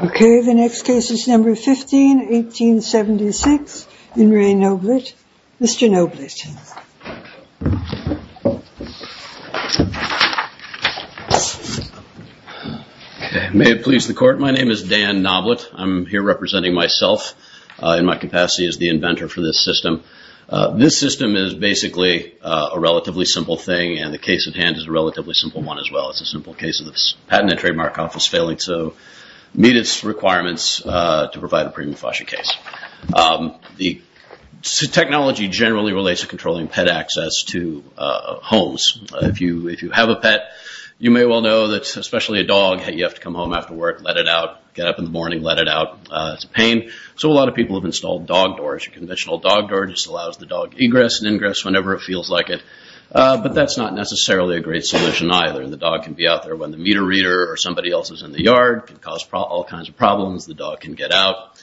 Okay, the next case is number 15, 1876. In Re Noblitt, Mr. Noblitt. May it please the court, my name is Dan Noblitt. I'm here representing myself in my capacity as the inventor for this system. This system is basically a relatively simple thing, and the case at hand is a relatively simple one as well. It's a simple case of this patented trademark office failing to meet its requirements to provide a premium FOSHA case. The technology generally relates to controlling pet access to homes. If you have a pet, you may well know that especially a dog, you have to come home after work, let it out, get up in the morning, let it out. It's a pain. So a lot of people have installed dog doors. A conventional dog door just allows the dog to egress and ingress whenever it feels like it. But that's not necessarily a great solution either. The dog can be out there when the meter reader or somebody else is in the yard. It can cause all kinds of problems. The dog can get out.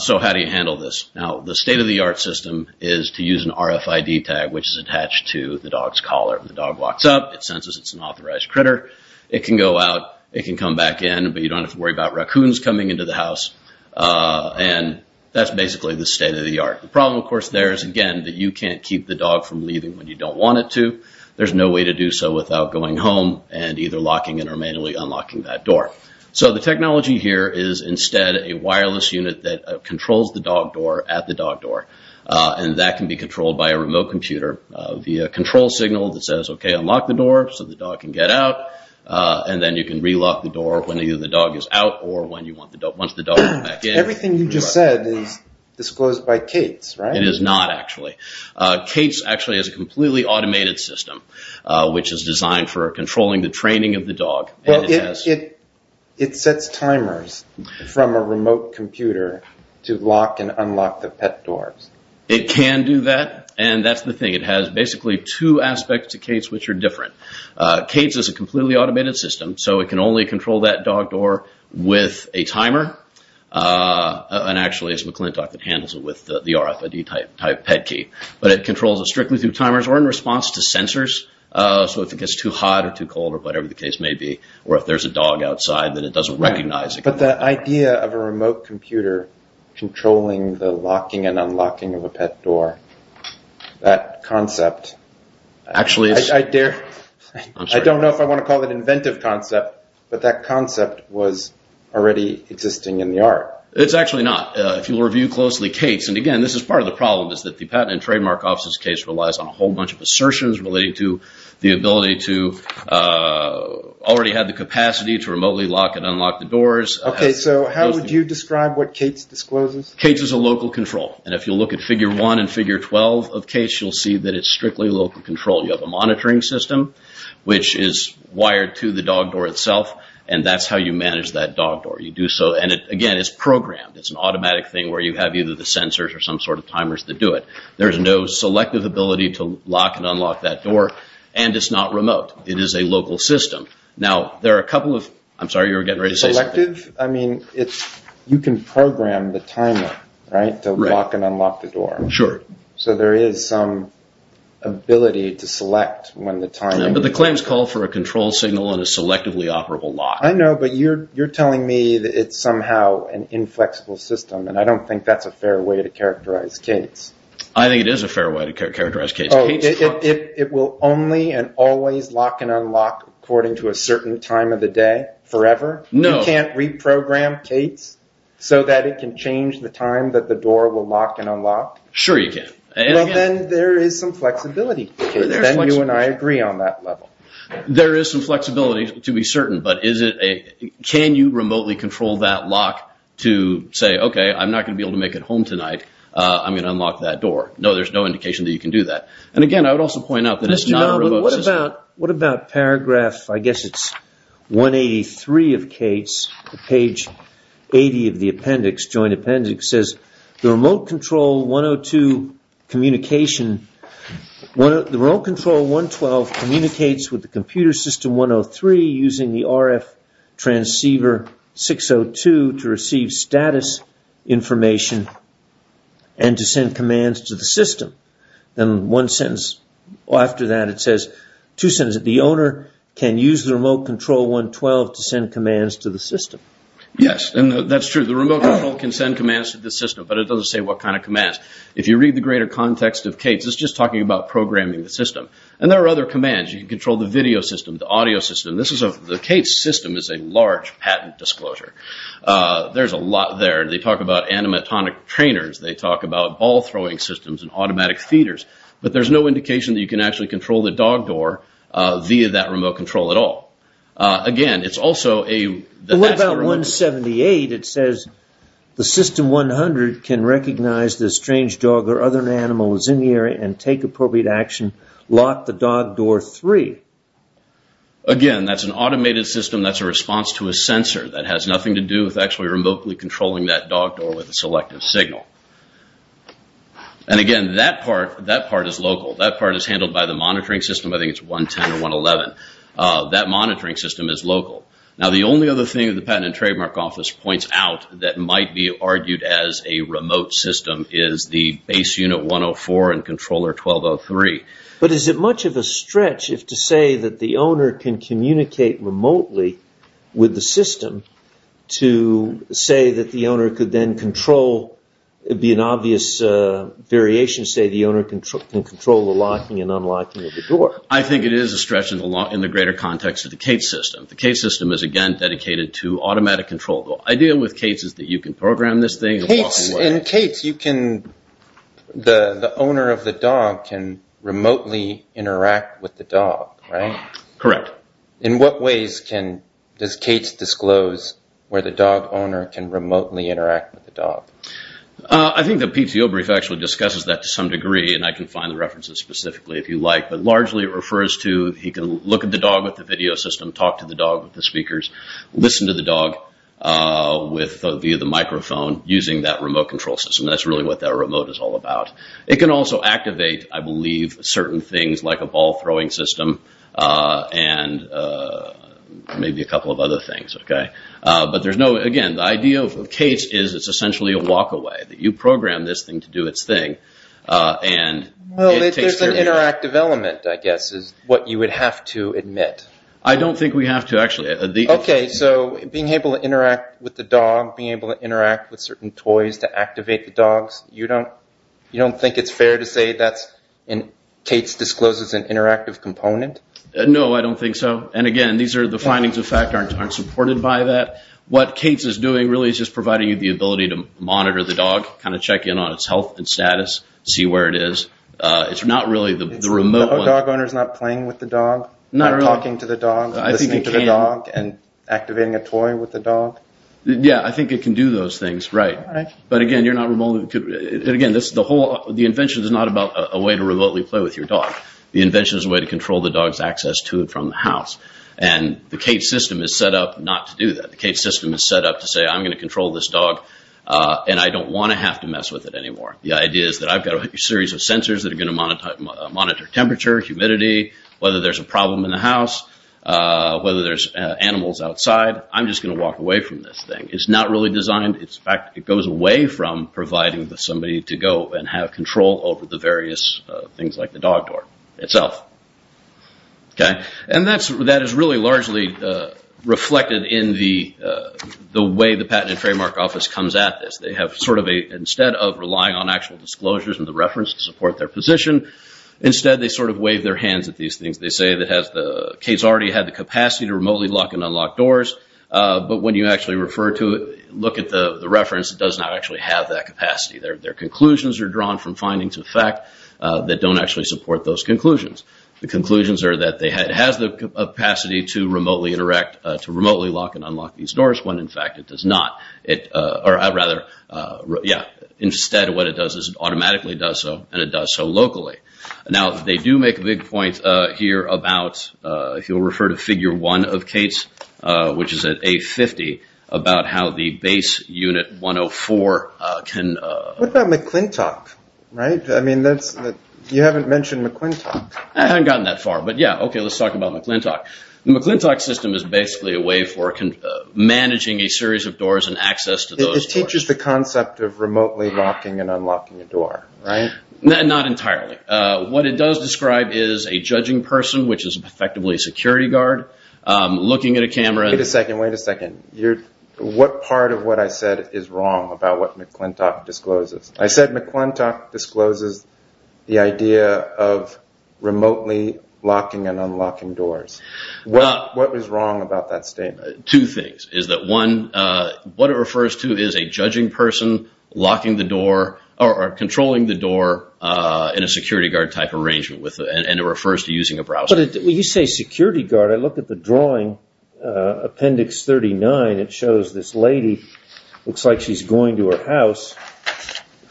So how do you handle this? Now, the state-of-the-art system is to use an RFID tag which is attached to the dog's collar. When the dog walks up, it senses it's an authorized raccoons coming into the house and that's basically the state-of-the-art. The problem of course there is, again, that you can't keep the dog from leaving when you don't want it to. There's no way to do so without going home and either locking it or manually unlocking that door. So the technology here is instead a wireless unit that controls the dog door at the dog door. And that can be controlled by a remote computer via a control signal that says, okay, unlock the door so the dog can get out. And then you can relock the door when either the dog is out or once the dog is back in. Everything you just said is disclosed by Cates, right? It is not actually. Cates actually has a completely automated system which is designed for controlling the training of the dog. It sets timers from a remote computer to lock and unlock the pet doors. It can do that and that's the thing. It has basically two aspects to Cates which are different. Cates is a completely automated system so it can only control that dog door with a timer. And actually it's McClintock that handles it with the RFID type pet key. But it controls it strictly through timers or in response to sensors. So if it gets too hot or too cold or whatever the case may be or if there's a dog outside that it doesn't recognize it. But the idea of a remote computer controlling the locking and unlocking of a pet door, that concept was already existing in the art. It's actually not. If you review closely Cates and again this is part of the problem is that the Patent and Trademark Office's case relies on a whole bunch of assertions relating to the ability to already have the capacity to remotely lock and unlock the doors. Okay, so how would you describe what Cates discloses? Cates is a local control and if you look at figure 1 and figure 12 of Cates you'll see that it's strictly local control. You have a monitoring system which is wired to the dog door itself and that's how you manage that dog door. You do so and again it's programmed. It's an automatic thing where you have either the sensors or some sort of timers that do it. There's no selective ability to lock and unlock that door and it's not remote. It is a local system. Now there are a couple of, I'm sorry you were getting ready to say something. Selective? I mean you can program the timer, right, to lock and unlock the door. Sure. So there is some ability to select when the timer... But the claims call for a control signal and a selectively operable lock. I know but you're telling me that it's somehow an inflexible system and I don't think that's a fair way to characterize Cates. I think it is a fair way to characterize Cates. Oh, it will only and always lock and unlock according to a certain time of the day forever? You can't reprogram Cates so that it can change the time that the door will lock and unlock? Sure you can. Well then there is some flexibility. Then you and I agree on that level. There is some flexibility to be certain but can you remotely control that lock to say okay I'm not going to be able to make it home tonight. I'm going to unlock that door. No, there's no indication that you can do that. And again I would also point out that it's not a remote system. What about paragraph, I guess it's 183 of the appendix, says the remote control 112 communicates with the computer system 103 using the RF transceiver 602 to receive status information and to send commands to the system. Then one sentence after that it says, two sentences, the owner can use the remote control 112 to send commands to the system. Yes, that's true. The remote control can send commands to the system but it doesn't say what kind of commands. If you read the greater context of Cates, it's just talking about programming the system. And there are other commands. You can control the video system, the audio system. The Cates system is a large patent disclosure. There's a lot there. They talk about animatronic trainers. They talk about ball throwing systems and automatic feeders. But there's no indication that you can actually control the dog door via that remote control at all. Again, it's also a... What about 178? It says the system 100 can recognize the strange dog or other animals in the area and take appropriate action. Lock the dog door 3. Again, that's an automated system. That's a response to a sensor that has nothing to do with actually remotely controlling that dog door with a selective signal. And again, that part is local. That part is handled by the monitoring system. I think it's 110 or 111. That monitoring system is local. Now the only other thing that the Patent and Trademark Office points out that might be argued as a remote system is the base unit 104 and controller 1203. But is it much of a stretch if to say that the owner can communicate remotely with the system to say that the owner could then control... It'd be an obvious variation to say the owner can control the locking and unlocking of the door. I think it is a stretch in the greater context of the CAITS system. The CAITS system is again dedicated to automatic control. The idea with CAITS is that you can program this thing in a walking way. In CAITS, you can... The owner of the dog can remotely interact with the dog, right? Correct. In what ways does CAITS disclose where the dog owner can remotely interact with the dog? I think the PTO brief actually discusses that to some degree, and I can find the references specifically if you like. But largely it refers to he can look at the dog with the video system, talk to the dog with the speakers, listen to the dog via the microphone using that remote control system. That's really what that remote is all about. It can also activate, I believe, certain things like a ball-throwing system and maybe a couple of other things. But there's no... Again, the idea of CAITS is it's essentially a walk-away. You program this thing to do its thing, and it takes care of you. Well, there's an interactive element, I guess, is what you would have to admit. I don't think we have to, actually. Okay, so being able to interact with the dog, being able to interact with certain toys to activate the dogs, you don't think it's fair to say that CAITS discloses an interactive component? No, I don't think so. And again, the findings of fact aren't supported by that. What CAITS is doing really is just providing you the ability to monitor the dog, kind of check in on its health and status, see where it is. It's not really the remote one. The dog owner is not playing with the dog? Not really. Not talking to the dog, listening to the dog, and activating a toy with the dog? Yeah, I think it can do those things, right. But again, you're not remotely... Again, the invention is not about a way to remotely play with your dog. The invention is a way to control the dog's access to and from the house. And the CAITS system is set up not to do that. The CAITS system is set up to say, I'm going to control this dog, and I don't want to have to mess with it anymore. The idea is that I've got a series of sensors that are going to monitor temperature, humidity, whether there's a problem in the house, whether there's animals outside. I'm just going to walk away from this thing. It's not really designed. In fact, it goes away from providing somebody to go and have control over the various things like the dog door itself. And that is really largely reflected in the way the Patent and Trademark Office comes at this. Instead of relying on actual disclosures and the reference to support their position, instead they sort of wave their hands at these things. They say that CAITS already has the capacity to remotely lock and unlock doors, but when you actually refer to it, look at the reference, it does not actually have that capacity. Their conclusions are drawn from findings of fact that don't actually support those conclusions. The conclusions are that it has the capacity to remotely interact, to remotely lock and unlock these doors, when in fact it does not. Instead, what it does is it automatically does so, and it does so locally. Now, they do make a big point here about, if you'll refer to Figure 1 of CAITS, which is at A50, about how the base unit 104 can... What about McClintock? You haven't mentioned McClintock. I haven't gotten that far, but yeah, okay, let's talk about McClintock. The McClintock system is basically a way for managing a series of doors and access to those... It teaches the concept of remotely locking and unlocking a door, right? Not entirely. What it does describe is a judging person, which is effectively a security guard, looking at a camera... Wait a second, wait a second. What part of what I said is wrong about what McClintock discloses? I said McClintock discloses the idea of remotely locking and unlocking doors. What was wrong about that statement? Two things. One, what it refers to is a judging person locking the door or controlling the door in a security guard type arrangement, and it refers to using a browser. When you say security guard, I look at the drawing, Appendix 39, it shows this lady. Looks like she's going to her house.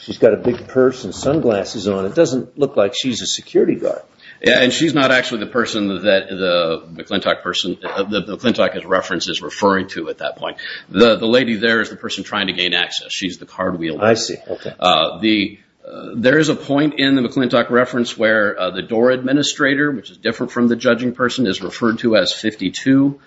She's got a big purse and sunglasses on. It doesn't look like she's a security guard. Yeah, and she's not actually the person that the McClintock person... McClintock is referenced as referring to at that point. The lady there is the person trying to gain access. She's the card wheel. I see. There is a point in the McClintock reference where the door administrator, which is different from the judging person, is referred to as 52,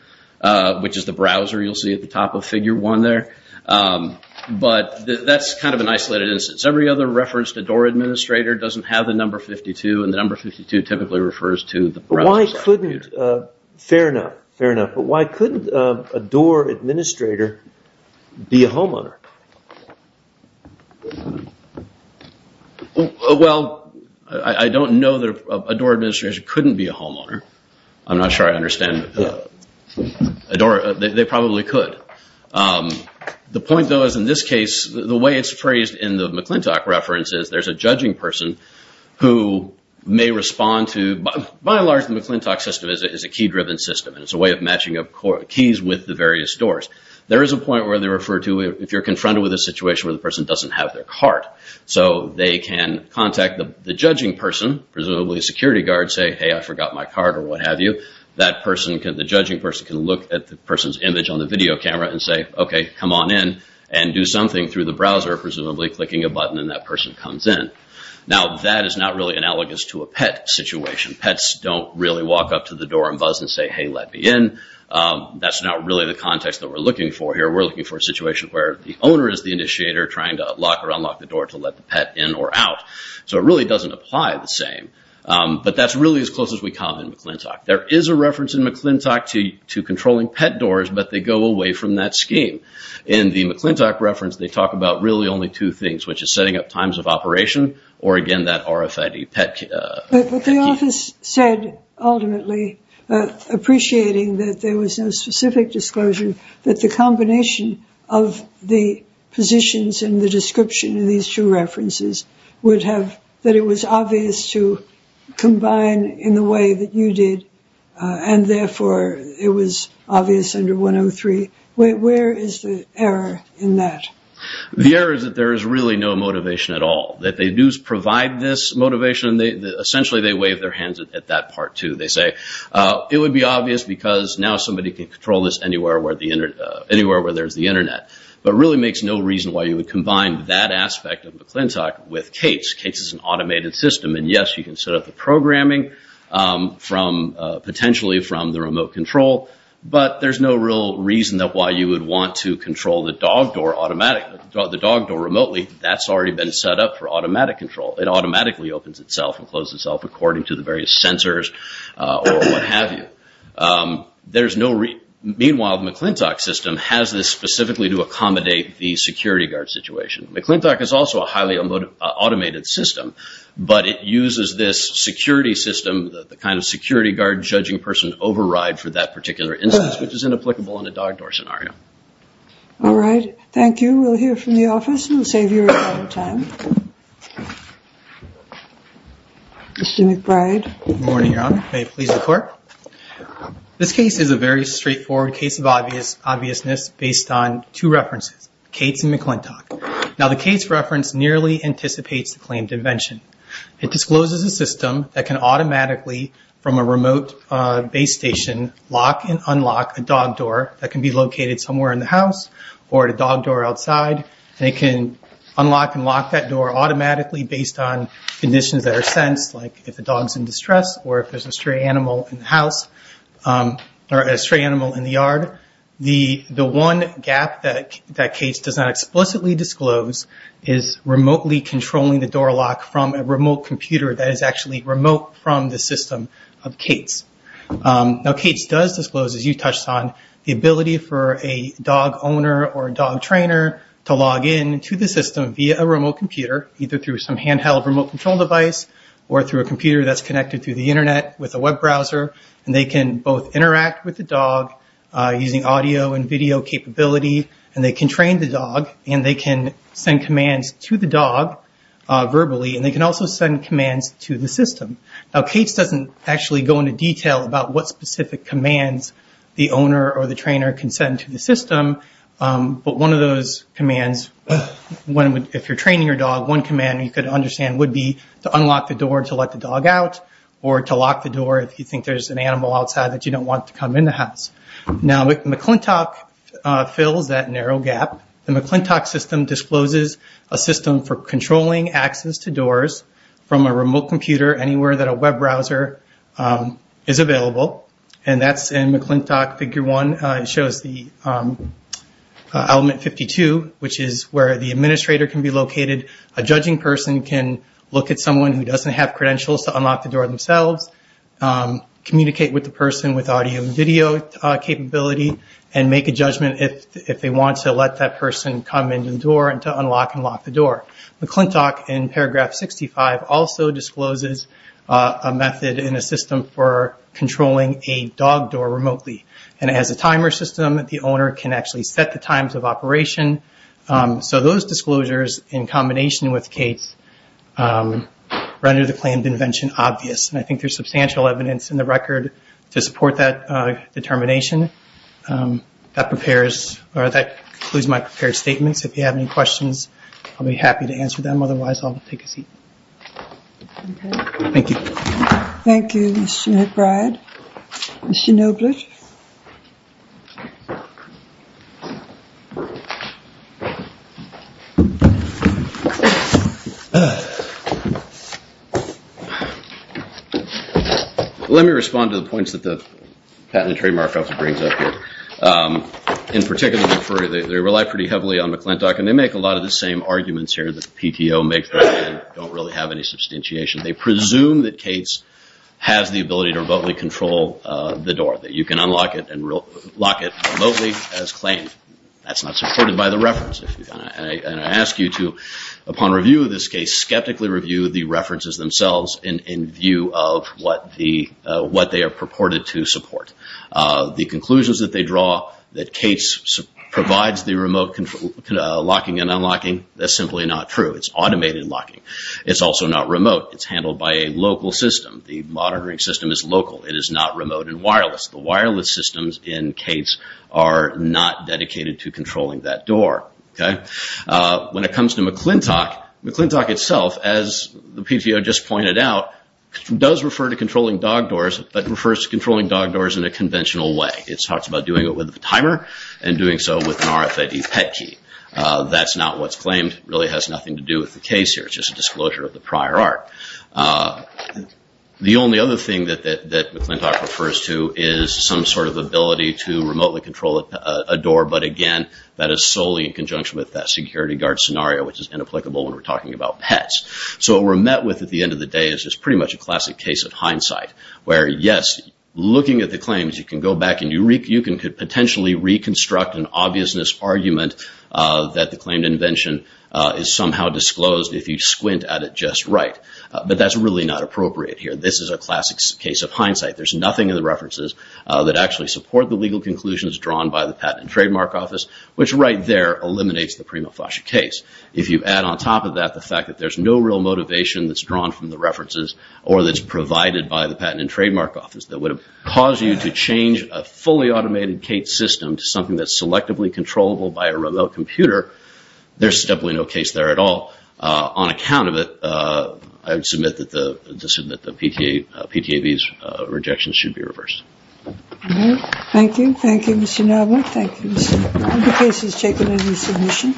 which is the browser you'll see at the top of Figure 1 there. But that's kind of an isolated instance. Every other reference to door administrator doesn't have the number 52, and the number 52 typically refers to the browser. Why couldn't... Fair enough, fair enough. But why couldn't a door administrator be a homeowner? Well, I don't know that a door administrator couldn't be a homeowner. I'm not sure I understand. They probably could. The point, though, is in this case, the way it's phrased in the McClintock reference is there's a judging person who may respond to... By and large, the McClintock system is a key-driven system, and it's a way of matching up keys with the various doors. There is a point where they refer to... The person doesn't have their card, so they can contact the judging person, presumably a security guard, say, hey, I forgot my card or what have you. That person, the judging person, can look at the person's image on the video camera and say, okay, come on in and do something through the browser, presumably clicking a button, and that person comes in. Now, that is not really analogous to a pet situation. Pets don't really walk up to the door and buzz and say, hey, let me in. That's not really the context that we're looking for here. We're looking for a situation where the owner is the initiator, trying to lock or unlock the door to let the pet in or out. So it really doesn't apply the same. But that's really as close as we come in McClintock. There is a reference in McClintock to controlling pet doors, but they go away from that scheme. In the McClintock reference, they talk about really only two things, which is setting up times of operation, or again, that RFID pet key. But the office said, ultimately, appreciating that there was no specific disclosure, that the combination of the positions and the description of these two references would have, that it was obvious to combine in the way that you did, and therefore, it was obvious under 103. Where is the error in that? The error is that there is really no motivation at all. That they do provide this motivation. Essentially, they wave their hands at that part, too. They say, it would be obvious because now somebody can control this anywhere anywhere where there's the internet. But really makes no reason why you would combine that aspect of McClintock with CASE. CASE is an automated system, and yes, you can set up the programming potentially from the remote control, but there's no real reason why you would want to control the dog door automatically, the dog door remotely. That's already been set up for automatic control. It automatically opens itself and closes itself according to the various sensors or what have you. There's no reason. Meanwhile, the McClintock system has this specifically to accommodate the security guard situation. McClintock is also a highly automated system, but it uses this security system, the kind of security guard judging person override for that particular instance, which is inapplicable in a dog door scenario. All right. Thank you. We'll hear from the office, and we'll save you a lot of time. Mr. McBride. Good morning, Your Honor. May it please the Court? This case is a very straightforward case of obviousness based on two references, CASE and McClintock. Now, the CASE reference nearly anticipates the claimed invention. It discloses a system that can automatically from a remote base station lock and unlock a dog door that can be located somewhere in the house or at a dog door outside, and it can unlock and lock that door automatically based on conditions that are sensed, or a stray animal in the yard. The one gap that CASE does not explicitly disclose is remotely controlling the door lock from a remote computer that is actually remote from the system of CASE. Now, CASE does disclose, as you touched on, the ability for a dog owner or a dog trainer to log in to the system via a remote computer, either through some handheld remote control device or through a computer that's connected through the internet with a web browser, and they can both interact with the dog using audio and video capability, and they can train the dog, and they can send commands to the dog verbally, and they can also send commands to the system. Now, CASE doesn't actually go into detail about what specific commands the owner or the trainer can send to the system, but one of those commands, if you're training your dog, one command you could understand would be to unlock the door to let the dog out or to lock the door if you think there's an animal outside that you don't want to come in the house. Now, McClintock fills that narrow gap. The McClintock system discloses a system for controlling access to doors from a remote computer anywhere that a web browser is available, and that's in McClintock figure one. It shows the element 52, which is where the administrator can be located. A judging person can look at someone who doesn't have credentials to unlock the door themselves, communicate with the person with audio and video capability, and make a judgment if they want to let that person come into the door and to unlock and lock the door. McClintock in paragraph 65 also discloses a method in a system for controlling a dog door remotely, and it has a timer system that the owner can actually set the times of operation, so those disclosures in combination with CASE render the claimed invention obvious, and I think there's substantial evidence in the record to support that determination. That prepares or that concludes my prepared statements. If you have any questions, I'll be happy to answer them. Otherwise, I'll take a seat. Thank you. Thank you, Mr. McBride. Mr. Nobler. Let me respond to the points that the Patent and Trademark Office brings up here. In particular, they rely pretty heavily on McClintock, and they make a lot of the same arguments here that the PTO makes that they don't really have any substantiation. They presume that CASE has the ability to remotely control the door, that you can unlock it and lock it remotely as claimed. That's not supported by the reference. I ask you to, upon review of this case, skeptically review the references themselves in view of what they are purported to support. The conclusions that they draw, that CASE provides the remote locking and unlocking, that's simply not true. It's automated locking. It's also not remote. It's handled by a local system. The monitoring system is local. It is not remote and wireless. The wireless systems in CASE are not dedicated to controlling that door. When it comes to McClintock, McClintock itself, as the PTO just pointed out, does refer to controlling dog doors, but refers to controlling dog doors in a conventional way. It talks about doing it with a timer and doing so with an RFID PET key. That's not what's claimed. It really has nothing to do with the CASE here. It's just a disclosure of the prior art. The only other thing that McClintock refers to is some sort of ability to remotely control a door, but again, that is solely in conjunction with that security guard scenario, which is inapplicable when we're talking about pets. So what we're met with at the end of the day is just pretty much a classic case of hindsight, where yes, looking at the claims, you can go back and you could potentially reconstruct an obviousness argument that the claimed invention is somehow disclosed if you squint at it just right, but that's really not appropriate here. This is a classic case of hindsight. There's nothing in the references that actually support the legal conclusions drawn by the Patent and Trademark Office, which right there eliminates the prima facie case. If you add on top of that the fact that there's no real motivation that's drawn from the references or that's provided by the Patent and Trademark Office that would have caused you to change a fully automated CASE system to something that's selectively controllable by a remote computer, there's definitely no case there at all. On account of it, I would submit that the PTAB's rejection should be reversed. All right. Thank you. Thank you, Mr. Narver. Thank you, Mr. Narver. Any other cases taken under submission?